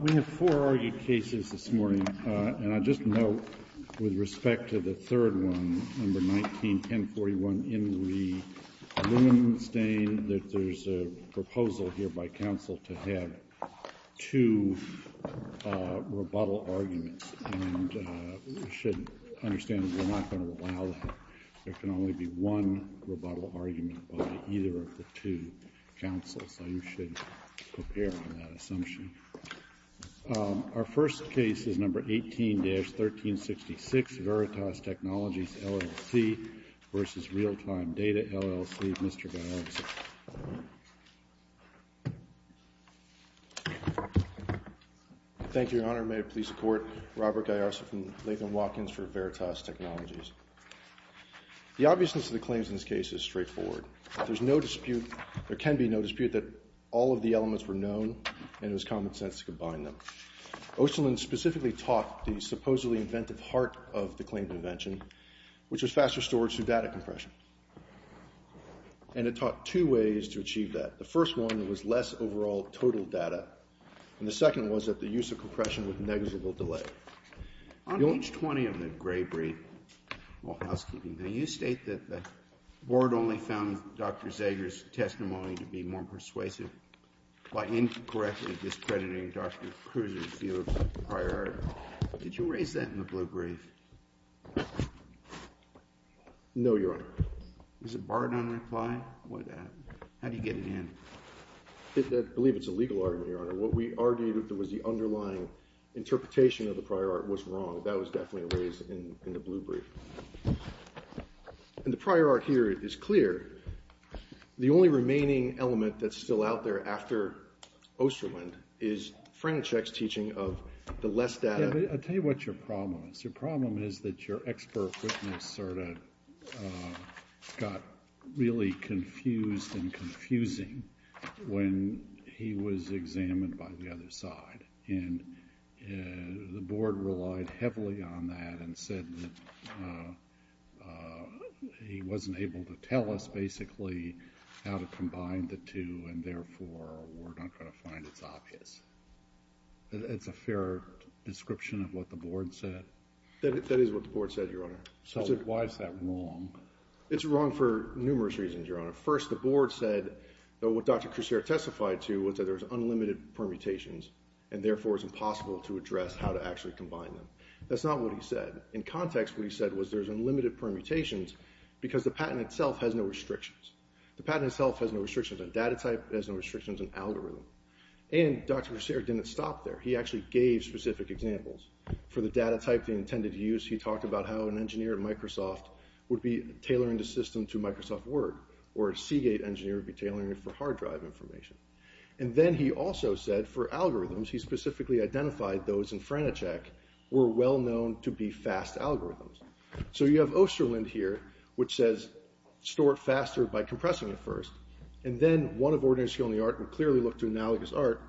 We have four argued cases this morning, and I'll just note with respect to the third one, number 19-1041, in the aluminum stain, that there's a proposal here by Council to have two rebuttal arguments, and we should understand that we're not going to allow that. There can only be one rebuttal argument by either of the two councils, so you should prepare for that assumption. Our first case is number 18-1366, Veritas Technologies LLC v. Realtime Data, LLC. Mr. Gaiarsa. Thank you, Your Honor. May it please the Court, Robert Gaiarsa from Latham Watkins for Veritas Technologies. The obviousness of the claims in this case is straightforward. There can be no dispute that all of the elements were known, and it was common sense to combine them. Osterlund specifically taught the supposedly inventive heart of the claimed invention, which was faster storage through data compression, and it taught two ways to achieve that. The first one was less overall total data, and the second was that the use of compression with negligible delay. On page 20 of the Gray Brief, all housekeeping, you state that the Board only found Dr. Zager's testimony to be more persuasive by incorrectly discrediting Dr. Kruse's view of the prior argument. Did you raise that in the Blue Brief? No, Your Honor. Is it barred on reply? How do you get it in? I believe it's a legal argument, Your Honor. What we argued that was the underlying interpretation of the prior art was wrong. That was definitely raised in the Blue Brief. And the prior art here is clear. The only remaining element that's still out there after Osterlund is Frank Cech's teaching of the less data. Yeah, but I'll tell you what your problem is. Your problem is that your expert witness sort of got really confused and confusing when he was examined by the other side. And the Board relied heavily on that and said that he wasn't able to tell us basically how to combine the two and therefore we're not going to find it's obvious. It's a fair description of what the Board said? That is what the Board said, Your Honor. So why is that wrong? It's wrong for numerous reasons, Your Honor. First, the Board said that what Dr. Kruse testified to was that there's unlimited permutations and therefore it's impossible to address how to actually combine them. That's not what he said. In context, what he said was there's unlimited permutations because the patent itself has no restrictions. The patent itself has no restrictions on data type. It has no restrictions on algorithm. And Dr. Kruse didn't stop there. He actually gave specific examples. For the data type he intended to use, he talked about how an engineer at Microsoft would be tailoring the system to Microsoft Word or a Seagate engineer would be tailoring it for hard drive information. And then he also said for algorithms, he specifically identified those in Frenicheck were well known to be fast algorithms. So you have Osterlund here which says store it faster by compressing it first and then one of ordinary skill in the art will clearly look to analogous art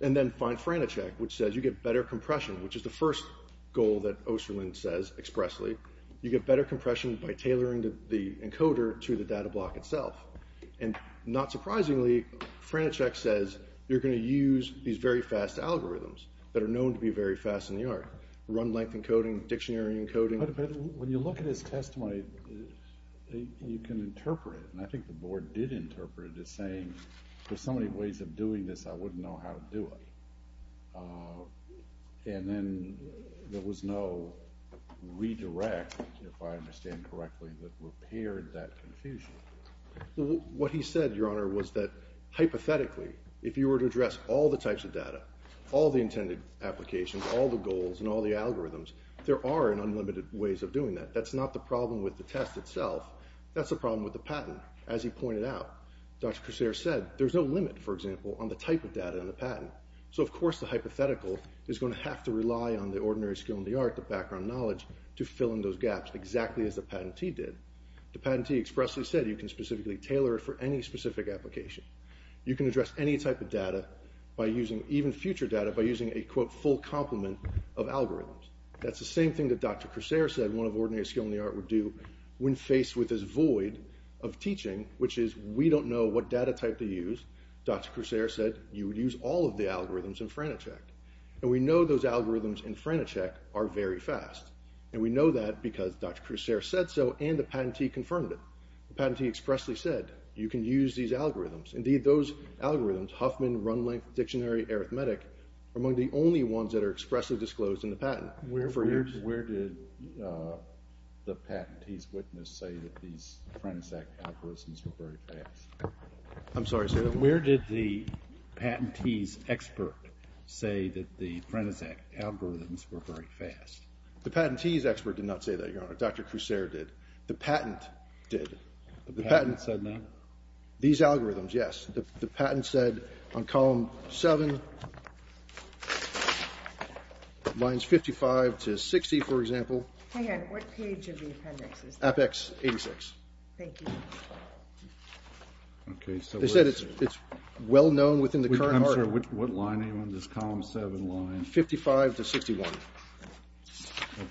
and then find Frenicheck which says you get better compression which is the first goal that Osterlund says expressly. You get better compression by tailoring the encoder to the data block itself. And not surprisingly, Frenicheck says you're going to use these very fast algorithms that are known to be very fast in the art. Run length encoding, dictionary encoding. But when you look at his testimony, you can interpret it. And I think the board did interpret it as saying there's so many ways of doing this, I wouldn't know how to do it. And then there was no redirect, if I understand correctly, that repaired that confusion. What he said, Your Honor, was that hypothetically, if you were to address all the types of data, all the intended applications, all the goals and all the algorithms, there are unlimited ways of doing that. That's not the problem with the test itself. That's the problem with the patent. As he pointed out, Dr. Cressere said there's no limit, for example, on the type of data in the patent. So of course the hypothetical is going to have to rely on the ordinary skill in the art, the background knowledge, to fill in those gaps exactly as the patentee did. The patentee expressly said you can specifically tailor it for any specific application. You can address any type of data by using, even future data, by using a, quote, full complement of algorithms. That's the same thing that Dr. Cressere said one of ordinary skill in the art would do when faced with this void of teaching, which is we don't know what data type to use. Dr. Cressere said you would use all of the algorithms in Franticek. And we know those algorithms in Franticek are very fast. And we know that because Dr. Cressere said so and the patentee confirmed it. The patentee expressly said you can use these algorithms. Indeed, those algorithms, Huffman, run length, dictionary, arithmetic, are among the only ones that are expressly disclosed in the patent. Where did the patentee's witness say that these Franticek algorithms were very fast? I'm sorry, sir. Where did the patentee's expert say that the Franticek algorithms were very fast? The patentee's expert did not say that, Your Honor. Dr. Cressere did. The patent did. The patent said that? These algorithms, yes. The patent said on column 7, lines 55 to 60, for example. Hang on. What page of the appendix is that? Apex 86. Thank you. They said it's well known within the current art. I'm sorry. What line, anyone? This column 7 line? 55 to 61.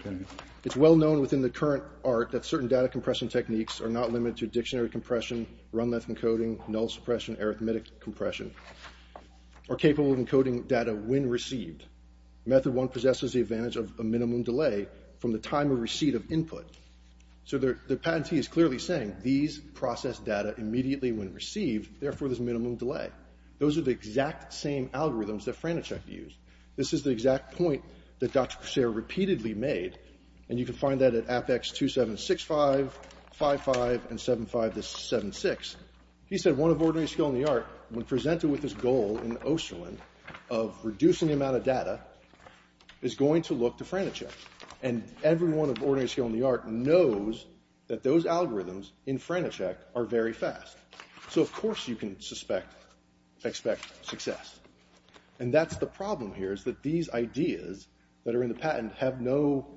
Okay. It's well known within the current art that certain data compression techniques are not limited to dictionary compression, run length encoding, null suppression, arithmetic compression, or capable of encoding data when received. Method 1 possesses the advantage of a minimum delay from the time of receipt of input. So the patentee is clearly saying these process data immediately when received, therefore there's a minimum delay. Those are the exact same algorithms that Franticek used. This is the exact point that Dr. Cressere repeatedly made, and you can find that at Apex 2765, 55, and 75 to 76. He said one of ordinary skill in the art, when presented with this goal in Osterlund of reducing the amount of data, is going to look to Franticek. And everyone of ordinary skill in the art knows that those algorithms in Franticek are very fast. So, of course, you can expect success. And that's the problem here, is that these ideas that are in the patent have no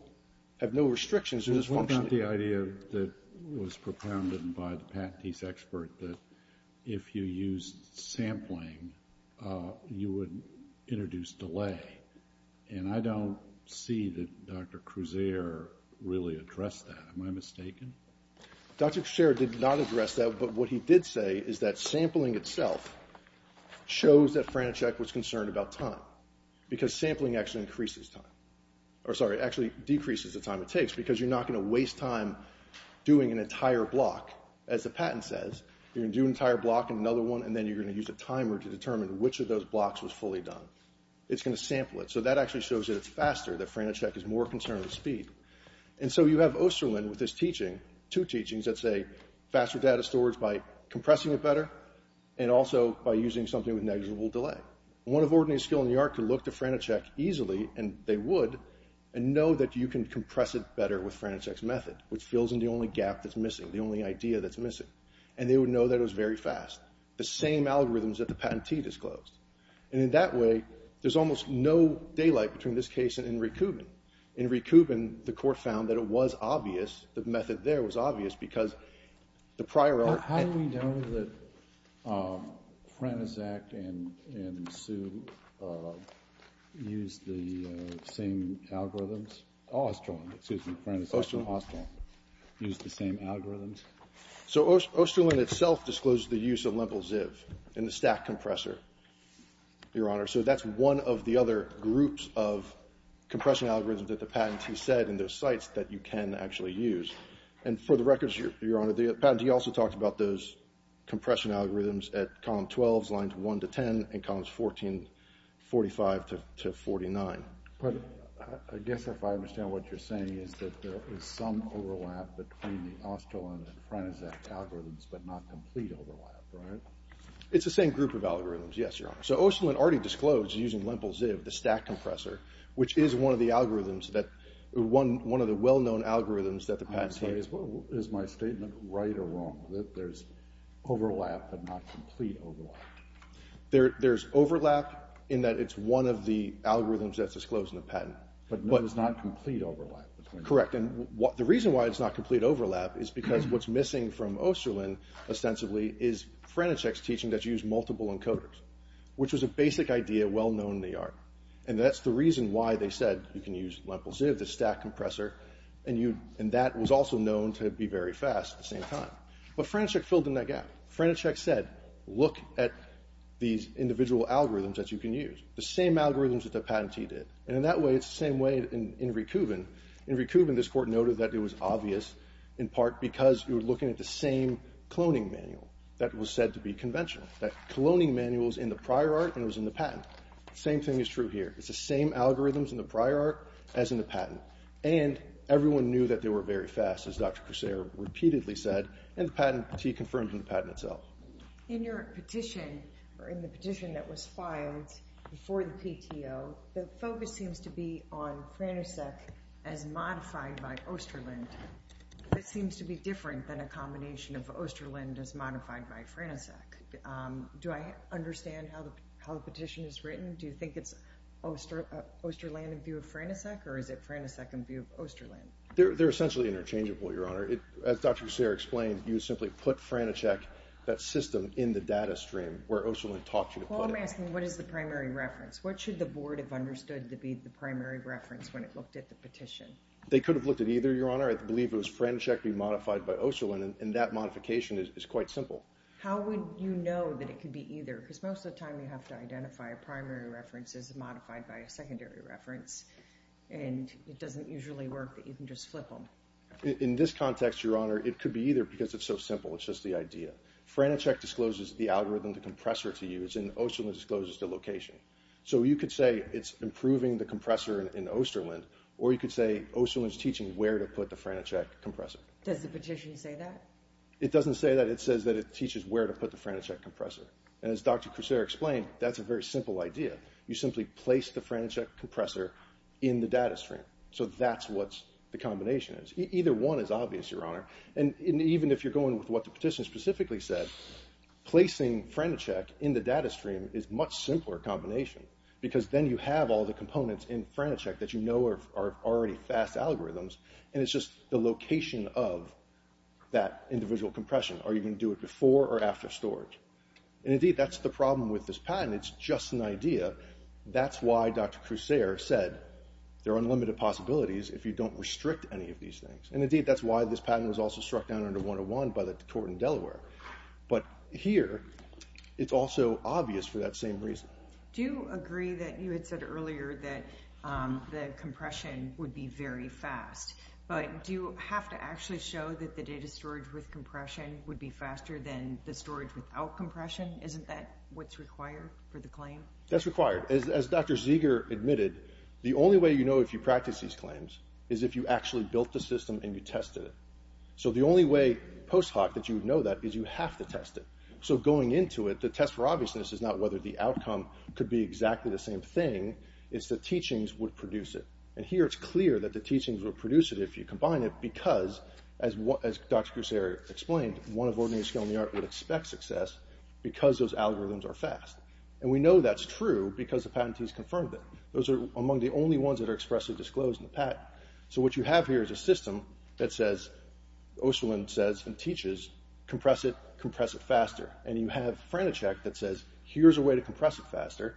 restrictions, they're just functional. What about the idea that was propounded by the patentee's expert, that if you used sampling, you would introduce delay? And I don't see that Dr. Cressere really addressed that. Am I mistaken? Dr. Cressere did not address that, but what he did say is that sampling itself shows that Franticek was concerned about time, because sampling actually decreases the time it takes, because you're not going to waste time doing an entire block. As the patent says, you're going to do an entire block and another one, and then you're going to use a timer to determine which of those blocks was fully done. It's going to sample it. So that actually shows that it's faster, that Franticek is more concerned with speed. And so you have Osterlund with his teaching, two teachings, that say faster data storage by compressing it better, and also by using something with negligible delay. One of Ordnance, Skill, and the Art could look to Franticek easily, and they would, and know that you can compress it better with Franticek's method, which fills in the only gap that's missing, the only idea that's missing. And they would know that it was very fast. The same algorithms that the patentee disclosed. And in that way, there's almost no daylight between this case and Inri Kuban. Inri Kuban, the court found that it was obvious, that the method there was obvious, because the prior element... How do we know that Franticek and Sue used the same algorithms? Osterlund, excuse me, Franticek and Osterlund used the same algorithms? So Osterlund itself disclosed the use of Lempel-Ziv in the stack compressor, Your Honor. So that's one of the other groups of compression algorithms that the patentee said in those sites that you can actually use. And for the record, Your Honor, the patentee also talked about those compression algorithms at column 12, lines 1 to 10, and columns 14, 45 to 49. But I guess if I understand what you're saying, is that there is some overlap between the Osterlund and Franticek algorithms, but not complete overlap, right? It's the same group of algorithms, yes, Your Honor. So Osterlund already disclosed using Lempel-Ziv, the stack compressor, which is one of the algorithms, one of the well-known algorithms that the patentee... I'm sorry, is my statement right or wrong, that there's overlap but not complete overlap? There's overlap in that it's one of the algorithms that's disclosed in the patent. But there's not complete overlap? Correct, and the reason why it's not complete overlap is because what's missing from Osterlund, ostensibly, is Franticek's teaching that you use multiple encoders, which was a basic idea well-known in the art. And that's the reason why they said you can use Lempel-Ziv, the stack compressor, and that was also known to be very fast at the same time. But Franticek filled in that gap. Franticek said, look at these individual algorithms that you can use, the same algorithms that the patentee did. And in that way, it's the same way in Rekubin. In Rekubin, this Court noted that it was obvious, in part because you were looking at the same cloning manual that was said to be conventional. That cloning manual was in the prior art and it was in the patent. The same thing is true here. It's the same algorithms in the prior art as in the patent. And everyone knew that they were very fast, as Dr. Corsair repeatedly said, and the patentee confirmed in the patent itself. In your petition, or in the petition that was filed before the PTO, the focus seems to be on Franticek as modified by Osterlund. It seems to be different than a combination of Osterlund as modified by Franticek. Do I understand how the petition is written? Do you think it's Osterland in view of Franticek, or is it Franticek in view of Osterlund? They're essentially interchangeable, Your Honor. As Dr. Corsair explained, you simply put Franticek, that system, in the data stream where Osterlund taught you to put it. Well, I'm asking, what is the primary reference? What should the Board have understood to be the primary reference when it looked at the petition? They could have looked at either, Your Honor. I believe it was Franticek being modified by Osterlund, and that modification is quite simple. How would you know that it could be either? Because most of the time you have to identify a primary reference as modified by a secondary reference, and it doesn't usually work that you can just flip them. In this context, Your Honor, it could be either because it's so simple. It's just the idea. Franticek discloses the algorithm, the compressor to use, and Osterlund discloses the location. So you could say it's improving the compressor in Osterlund, or you could say Osterlund's teaching where to put the Franticek compressor. Does the petition say that? It doesn't say that. It says that it teaches where to put the Franticek compressor. And as Dr. Crusare explained, that's a very simple idea. You simply place the Franticek compressor in the data stream. So that's what the combination is. Either one is obvious, Your Honor. And even if you're going with what the petition specifically said, placing Franticek in the data stream is a much simpler combination because then you have all the components in Franticek that you know are already fast algorithms, and it's just the location of that individual compression. Are you going to do it before or after storage? And indeed, that's the problem with this patent. It's just an idea. That's why Dr. Crusare said there are unlimited possibilities if you don't restrict any of these things. And indeed, that's why this patent was also struck down under 101 by the court in Delaware. But here, it's also obvious for that same reason. Do you agree that you had said earlier that the compression would be very fast? But do you have to actually show that the data storage with compression would be faster than the storage without compression? Isn't that what's required for the claim? That's required. As Dr. Zeger admitted, the only way you know if you practice these claims is if you actually built the system and you tested it. So the only way post hoc that you know that is you have to test it. So going into it, the test for obviousness is not whether the outcome could be exactly the same thing. It's the teachings would produce it. And here it's clear that the teachings would produce it if you combine it because, as Dr. Crusare explained, one of ordinary skill in the art would expect success because those algorithms are fast. And we know that's true because the patentees confirmed it. Those are among the only ones that are expressly disclosed in the patent. So what you have here is a system that says, and teaches, compress it, compress it faster. And you have Frantisek that says, here's a way to compress it faster.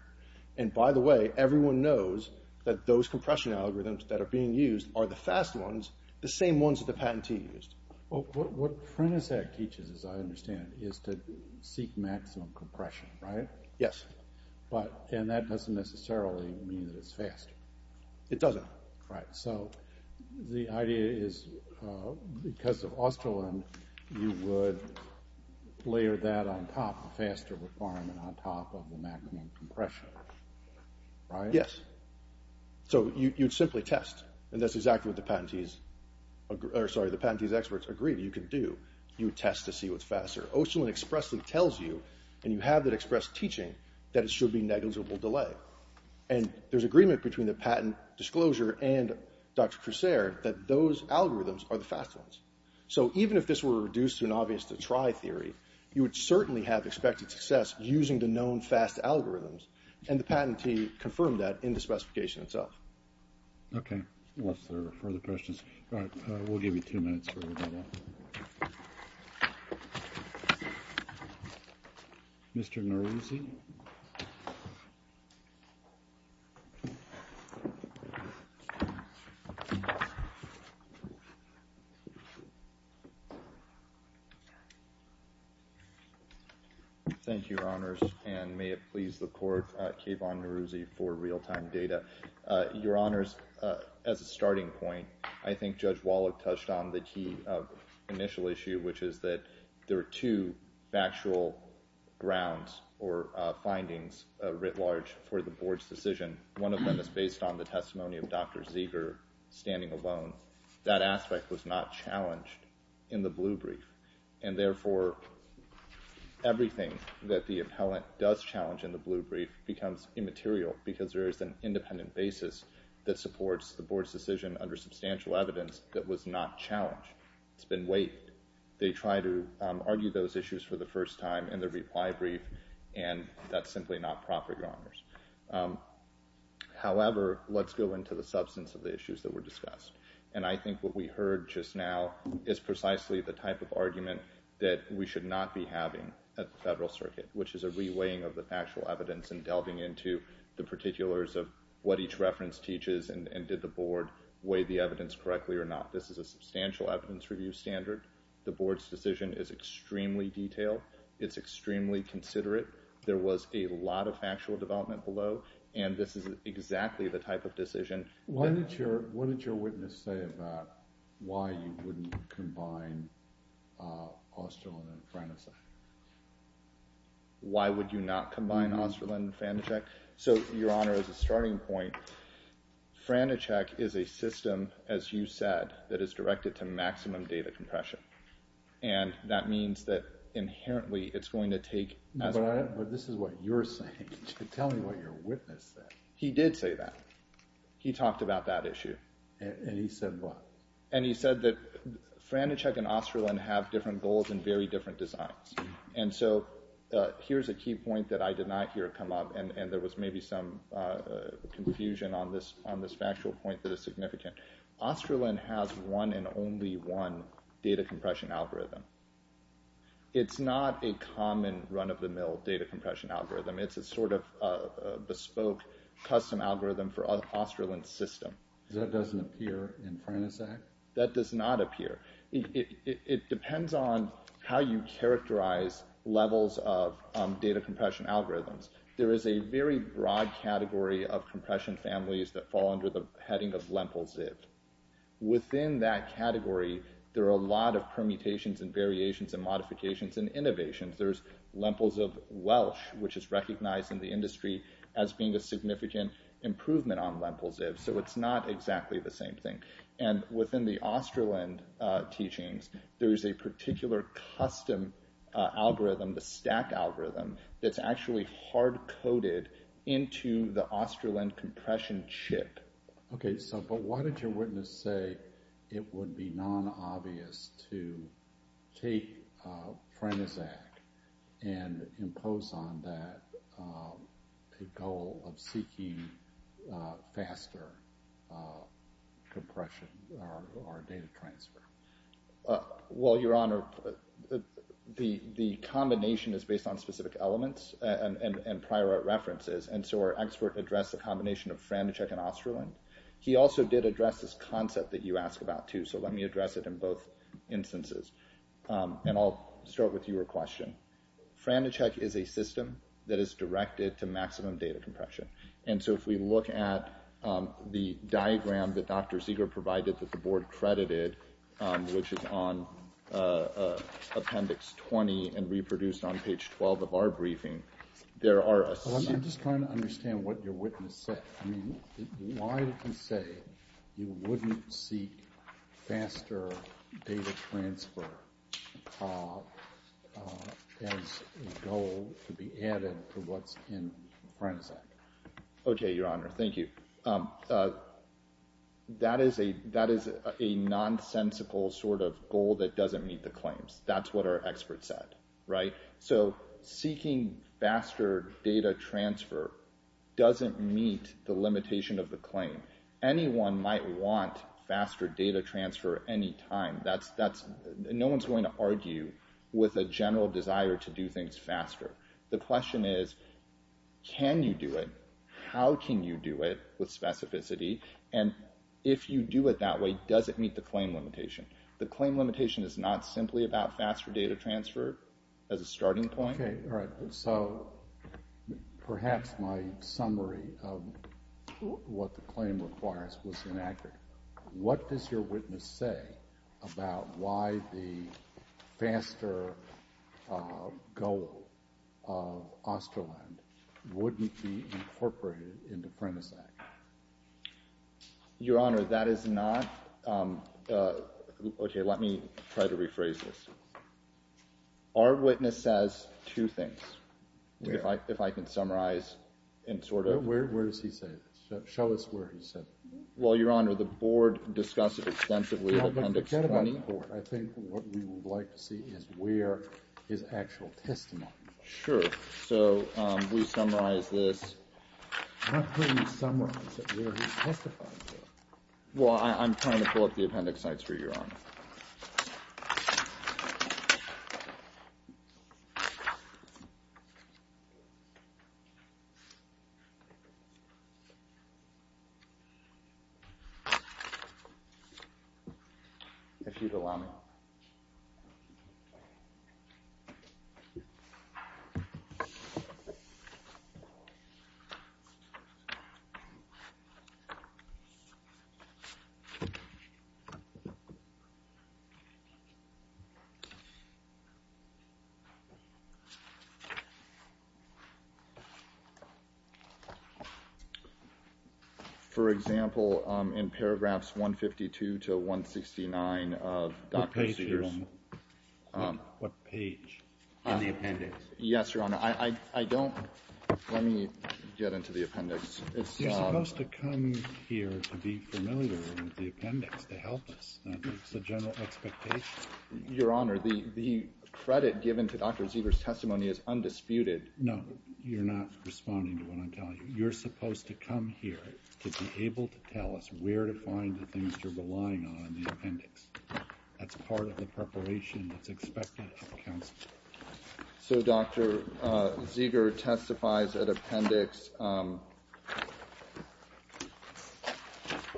And by the way, everyone knows that those compression algorithms that are being used are the fast ones, the same ones that the patentee used. What Frantisek teaches, as I understand, is to seek maximum compression, right? Yes. And that doesn't necessarily mean that it's fast. It doesn't. Right. So the idea is, because of Osterlin, you would layer that on top, the faster requirement, on top of the maximum compression. Right? Yes. So you'd simply test. And that's exactly what the patentee's experts agreed you could do. You would test to see what's faster. Osterlin expressly tells you, and you have that expressed teaching, that it should be negligible delay. And there's agreement between the patent disclosure and Dr. Crusare that those algorithms are the fast ones. So even if this were reduced to an obvious to try theory, you would certainly have expected success using the known fast algorithms, and the patentee confirmed that in the specification itself. Okay. Unless there are further questions. All right. We'll give you two minutes for that. Thank you. Mr. Neruzzi. Thank you, Your Honors. And may it please the court, Kayvon Neruzzi for real-time data. Your Honors, as a starting point, I think Judge Wallach touched on the key initial issue, which is that there are two factual grounds or findings, writ large, for the board's decision. One of them is based on the testimony of Dr. Zeger standing alone. That aspect was not challenged in the blue brief. And therefore, everything that the appellant does challenge in the blue brief becomes immaterial because there is an independent basis that supports the board's decision under substantial evidence that was not challenged. It's been weighed. They try to argue those issues for the first time in the reply brief, and that's simply not proper, Your Honors. However, let's go into the substance of the issues that were discussed. And I think what we heard just now is precisely the type of argument that we should not be having at the Federal Circuit, which is a re-weighing of the factual evidence and delving into the board weigh the evidence correctly or not. This is a substantial evidence review standard. The board's decision is extremely detailed. It's extremely considerate. There was a lot of factual development below, and this is exactly the type of decision. What did your witness say about why you wouldn't combine Osterlund and Franacek? Why would you not combine Osterlund and Franacek? So, Your Honor, as a starting point, Franacek is a system, as you said, that is directed to maximum data compression, and that means that inherently it's going to take as a result. But this is what you're saying. Tell me what your witness said. He did say that. He talked about that issue. And he said what? And he said that Franacek and Osterlund have different goals and very different designs. And so here's a key point that I did not hear come up, and there was maybe some confusion on this factual point that is significant. Osterlund has one and only one data compression algorithm. It's not a common run-of-the-mill data compression algorithm. It's a sort of bespoke custom algorithm for Osterlund's system. That doesn't appear in Franacek? That does not appear. It depends on how you characterize levels of data compression algorithms. There is a very broad category of compression families that fall under the heading of Lempel-Ziv. Within that category, there are a lot of permutations and variations and modifications and innovations. There's Lempel-Ziv Welsh, which is recognized in the industry as being a significant improvement on Lempel-Ziv, so it's not exactly the same thing. And within the Osterlund teachings, there is a particular custom algorithm, the stack algorithm, that's actually hard-coded into the Osterlund compression chip. Okay, but why did your witness say it would be non-obvious to take Franacek and impose on that a goal of seeking faster compression or data transfer? Well, Your Honor, the combination is based on specific elements and prior references, and so our expert addressed the combination of Franacek and Osterlund. He also did address this concept that you asked about, too, so let me address it in both instances. And I'll start with your question. Franacek is a system that is directed to maximum data compression, and so if we look at the diagram that Dr. Zieger provided that the Board credited, which is on Appendix 20 and reproduced on page 12 of our briefing, there are a series of— I'm just trying to understand what your witness said. Why did he say you wouldn't seek faster data transfer as a goal to be added to what's in Franacek? Okay, Your Honor, thank you. That is a nonsensical sort of goal that doesn't meet the claims. That's what our expert said, right? So seeking faster data transfer doesn't meet the limitation of the claim. Anyone might want faster data transfer any time. No one's going to argue with a general desire to do things faster. The question is, can you do it? How can you do it with specificity? And if you do it that way, does it meet the claim limitation? The claim limitation is not simply about faster data transfer as a starting point. Okay, all right. So perhaps my summary of what the claim requires was inaccurate. What does your witness say about why the faster goal of Osterland wouldn't be incorporated into Franacek? Your Honor, that is not – okay, let me try to rephrase this. Our witness says two things, if I can summarize and sort of – Where does he say this? Show us where he said it. Well, Your Honor, the Board discussed it extensively in Appendix 20. No, but forget about the Board. I think what we would like to see is where is actual testimony. Sure. So we summarize this. I'm not hearing you summarize it. Where is he testifying to it? Well, I'm trying to pull up the appendix, Your Honor. If you'd allow me. Okay. For example, in paragraphs 152 to 169 of Dr. Sears – What page, Your Honor? What page in the appendix? Yes, Your Honor. I don't – let me get into the appendix. You're supposed to come here to be familiar with the appendix, to help us. That's the general expectation. Your Honor, the credit given to Dr. Zevers' testimony is undisputed. No, you're not responding to what I'm telling you. You're supposed to come here to be able to tell us where to find the things you're relying on in the appendix. That's part of the preparation that's expected of counsel. So Dr. Zeger testifies at Appendix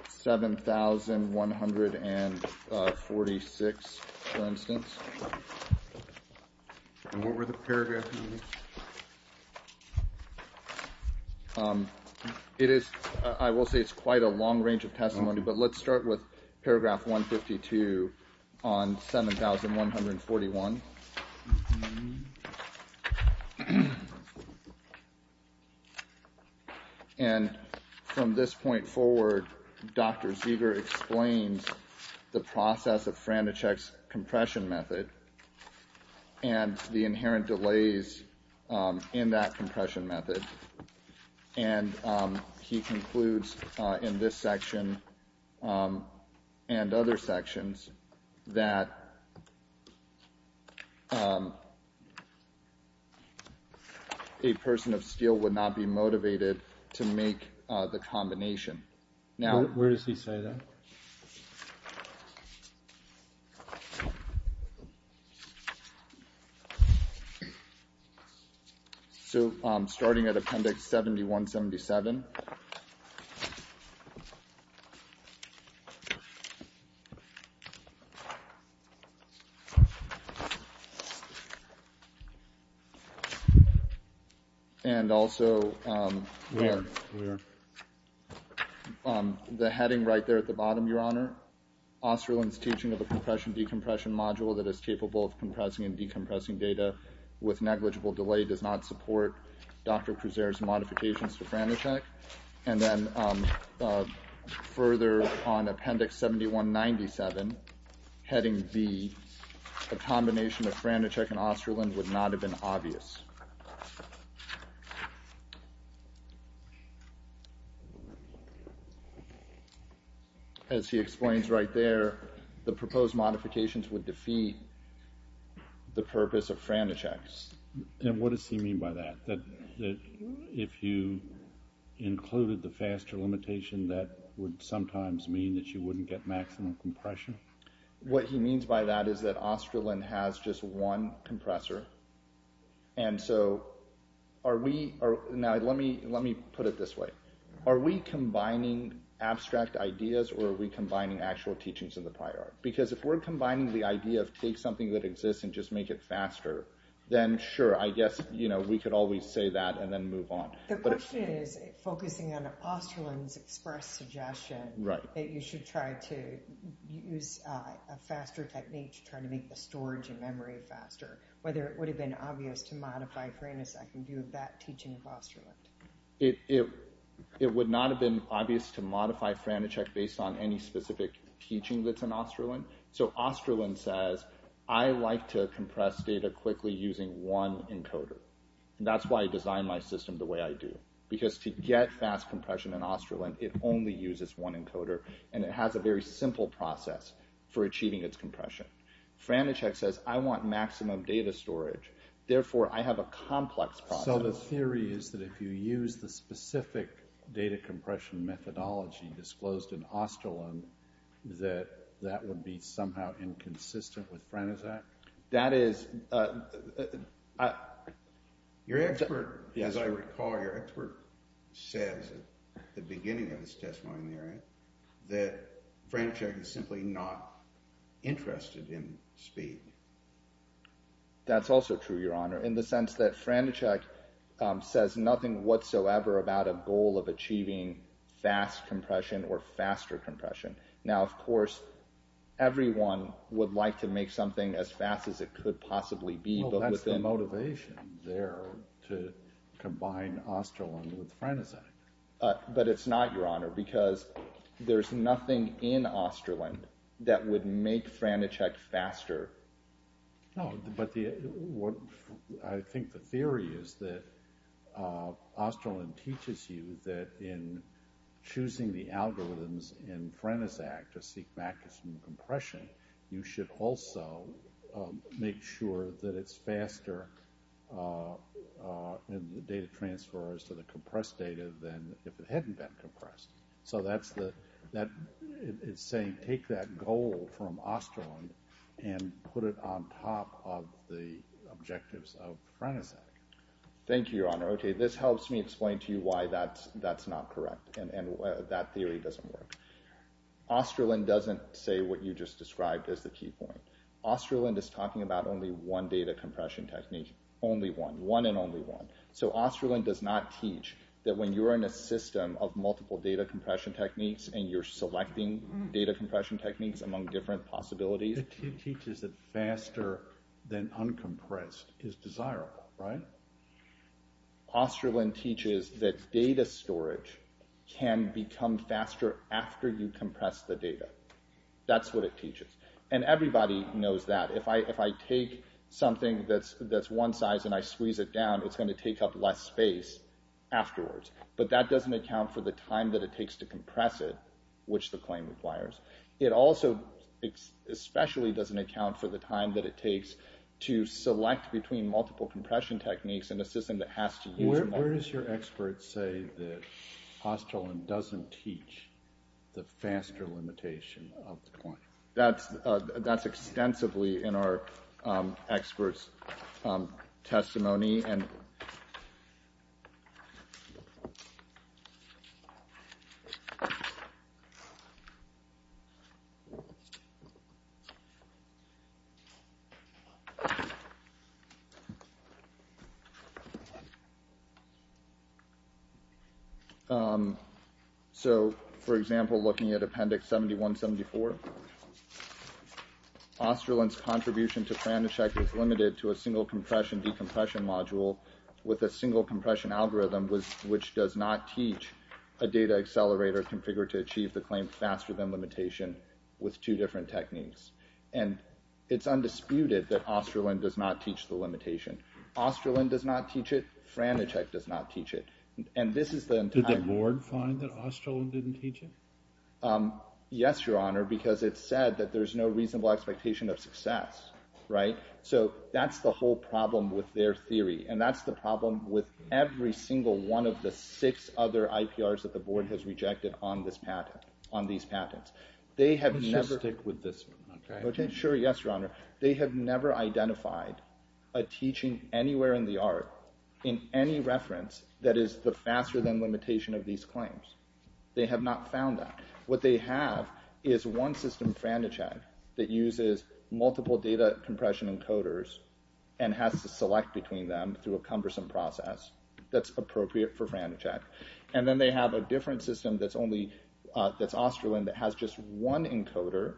7146, for instance. And what were the paragraphs? It is – I will say it's quite a long range of testimony, but let's start with paragraph 152 on 7141. And from this point forward, Dr. Zeger explains the process of Franachek's compression method and the inherent delays in that compression method. And he concludes in this section and other sections that a person of steel would not be motivated to make the combination. Where does he say that? Go ahead. So starting at Appendix 7177. And also – Where? Where? The heading right there at the bottom, Your Honor. Osterlund's teaching of a compression-decompression module that is capable of compressing and decompressing data with negligible delay does not support Dr. Kruzer's modifications to Franachek. And then further on Appendix 7197, heading B, a combination of Franachek and Osterlund would not have been obvious. As he explains right there, the proposed modifications would defeat the purpose of Franachek's. And what does he mean by that? That if you included the faster limitation, that would sometimes mean that you wouldn't get maximum compression? What he means by that is that Osterlund has just one compressor. And so are we – now let me put it this way. Are we combining abstract ideas or are we combining actual teachings of the prior? Because if we're combining the idea of take something that exists and just make it faster, then sure, I guess we could always say that and then move on. The question is focusing on Osterlund's express suggestion that you should try to use a faster technique to try to make the storage and memory faster, whether it would have been obvious to modify Franachek and do that teaching of Osterlund. It would not have been obvious to modify Franachek based on any specific teaching that's in Osterlund. So Osterlund says, I like to compress data quickly using one encoder. And that's why I design my system the way I do. Because to get fast compression in Osterlund, it only uses one encoder. And it has a very simple process for achieving its compression. Franachek says, I want maximum data storage. Therefore, I have a complex process. So the theory is that if you use the specific data compression methodology disclosed in Osterlund, that that would be somehow inconsistent with Franachek? Your expert, as I recall, your expert says at the beginning of his testimony that Franachek is simply not interested in speed. That's also true, Your Honor, in the sense that Franachek says nothing whatsoever about a goal of achieving fast compression or faster compression. Now, of course, everyone would like to make something as fast as it could possibly be. Well, that's the motivation there to combine Osterlund with Franachek. But it's not, Your Honor, because there's nothing in Osterlund that would make Franachek faster. No, but I think the theory is that Osterlund teaches you that in choosing the algorithms in Franachek to seek maximum compression, you should also make sure that it's faster in the data transfers to the compressed data than if it hadn't been compressed. So it's saying take that goal from Osterlund and put it on top of the objectives of Franachek. Thank you, Your Honor. Okay, this helps me explain to you why that's not correct and that theory doesn't work. Osterlund doesn't say what you just described as the key point. Osterlund is talking about only one data compression technique, only one, one and only one. So Osterlund does not teach that when you're in a system of multiple data compression techniques and you're selecting data compression techniques among different possibilities. It teaches that faster than uncompressed is desirable, right? Osterlund teaches that data storage can become faster after you compress the data. That's what it teaches, and everybody knows that. If I take something that's one size and I squeeze it down, it's going to take up less space afterwards. But that doesn't account for the time that it takes to compress it, which the claim requires. It also especially doesn't account for the time that it takes to select between multiple compression techniques in a system that has to use multiple. Where does your expert say that Osterlund doesn't teach the faster limitation of the claim? That's extensively in our experts' testimony. So for example, looking at Appendix 7174, Osterlund's contribution to Franischek is limited to a single compression decompression module with a single compression algorithm which does not teach a data accelerator configured to achieve the claim faster than limitation with two different techniques. And it's undisputed that Osterlund does not teach the limitation. Osterlund does not teach it. Franischek does not teach it. Did the board find that Osterlund didn't teach it? Yes, Your Honor, because it said that there's no reasonable expectation of success, right? So that's the whole problem with their theory. And that's the problem with every single one of the six other IPRs that the board has rejected on these patents. Let's just stick with this one, okay? Sure, yes, Your Honor. They have never identified a teaching anywhere in the art, in any reference, that is the faster than limitation of these claims. They have not found that. What they have is one system, Franischek, that uses multiple data compression encoders and has to select between them through a cumbersome process that's appropriate for Franischek. And then they have a different system that's Osterlund that has just one encoder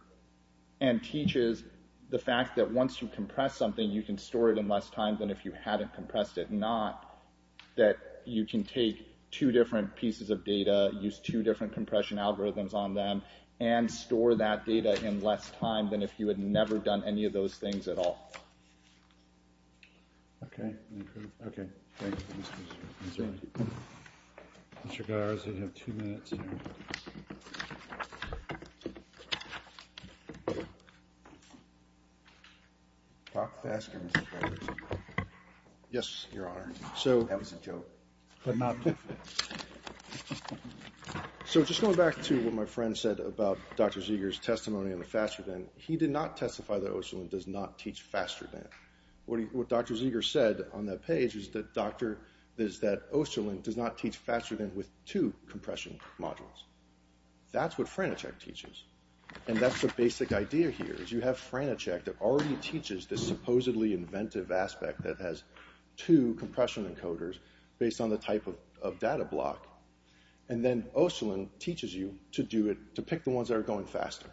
and teaches the fact that once you compress something, you can store it in less time than if you hadn't compressed it, that you can take two different pieces of data, use two different compression algorithms on them, and store that data in less time than if you had never done any of those things at all. Okay, thank you. Mr. Garza, you have two minutes. Talk faster, Mr. Garza. Yes, Your Honor. That was a joke. So just going back to what my friend said about Dr. Zeger's testimony on the faster than, he did not testify that Osterlund does not teach faster than. What Dr. Zeger said on that page is that Osterlund does not teach faster than with two compression models. That's what Franischek teaches. And that's the basic idea here is you have Franischek that already teaches this supposedly inventive aspect that has two compression encoders based on the type of data block. And then Osterlund teaches you to do it, to pick the ones that are going faster.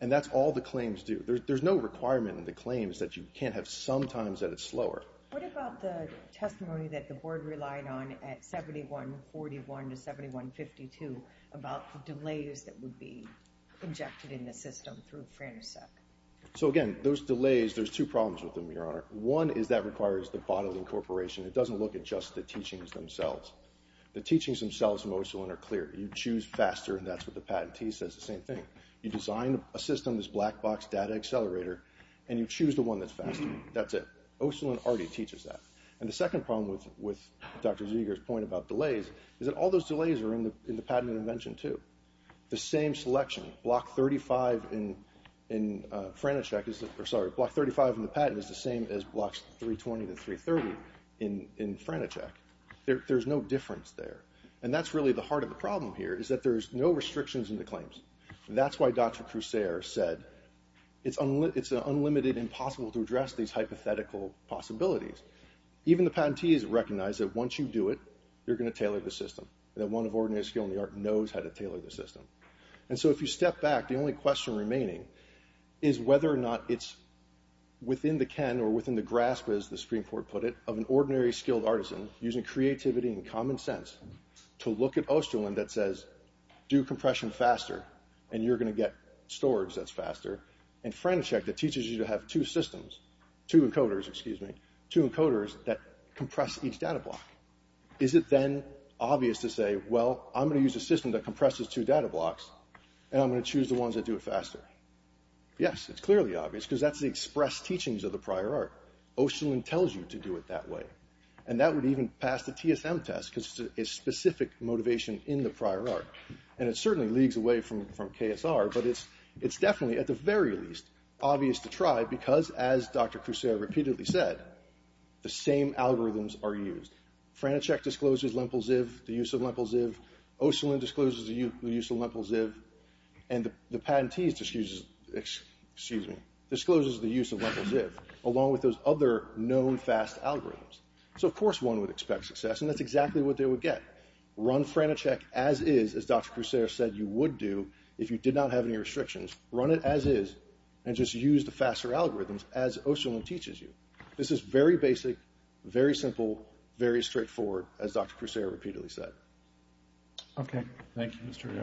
And that's all the claims do. There's no requirement in the claims that you can't have some times that it's slower. What about the testimony that the board relied on at 7141 to 7152 about the delays that would be injected in the system through Franischek? So again, those delays, there's two problems with them, Your Honor. One is that requires the bodily incorporation. It doesn't look at just the teachings themselves. The teachings themselves in Osterlund are clear. You choose faster, and that's what the patentee says, the same thing. You design a system, this black box data accelerator, and you choose the one that's faster. That's it. Osterlund already teaches that. And the second problem with Dr. Zeger's point about delays is that all those delays are in the patent intervention too. The same selection, block 35 in Franischek, sorry, block 35 in the patent is the same as blocks 320 to 330 in Franischek. There's no difference there. And that's really the heart of the problem here is that there's no restrictions in the claims. That's why Dr. Crusair said it's an unlimited, impossible to address these hypothetical possibilities. Even the patentees recognize that once you do it, you're going to tailor the system, that one of ordinary skill in the art knows how to tailor the system. And so if you step back, the only question remaining is whether or not it's within the ken or within the grasp, as the Supreme Court put it, of an ordinary skilled artisan using creativity and common sense to look at Osterlund that says, do compression faster and you're going to get storage that's faster. In Franischek, it teaches you to have two systems, two encoders, excuse me, two encoders that compress each data block. Is it then obvious to say, well, I'm going to use a system that compresses two data blocks and I'm going to choose the ones that do it faster? Yes, it's clearly obvious because that's the express teachings of the prior art. Osterlund tells you to do it that way. And that would even pass the TSM test because it's a specific motivation in the prior art. And it certainly leagues away from KSR, but it's definitely, at the very least, obvious to try because, as Dr. Crusoe repeatedly said, the same algorithms are used. Franischek discloses Lempel-Ziv, the use of Lempel-Ziv. Osterlund discloses the use of Lempel-Ziv. And the patentee discloses the use of Lempel-Ziv along with those other known fast algorithms. So, of course, one would expect success, and that's exactly what they would get. Run Franischek as is, as Dr. Crusoe said you would do if you did not have any restrictions. Run it as is and just use the faster algorithms as Osterlund teaches you. This is very basic, very simple, very straightforward, as Dr. Crusoe repeatedly said. Okay. Thank you, Mr. Yarbrough.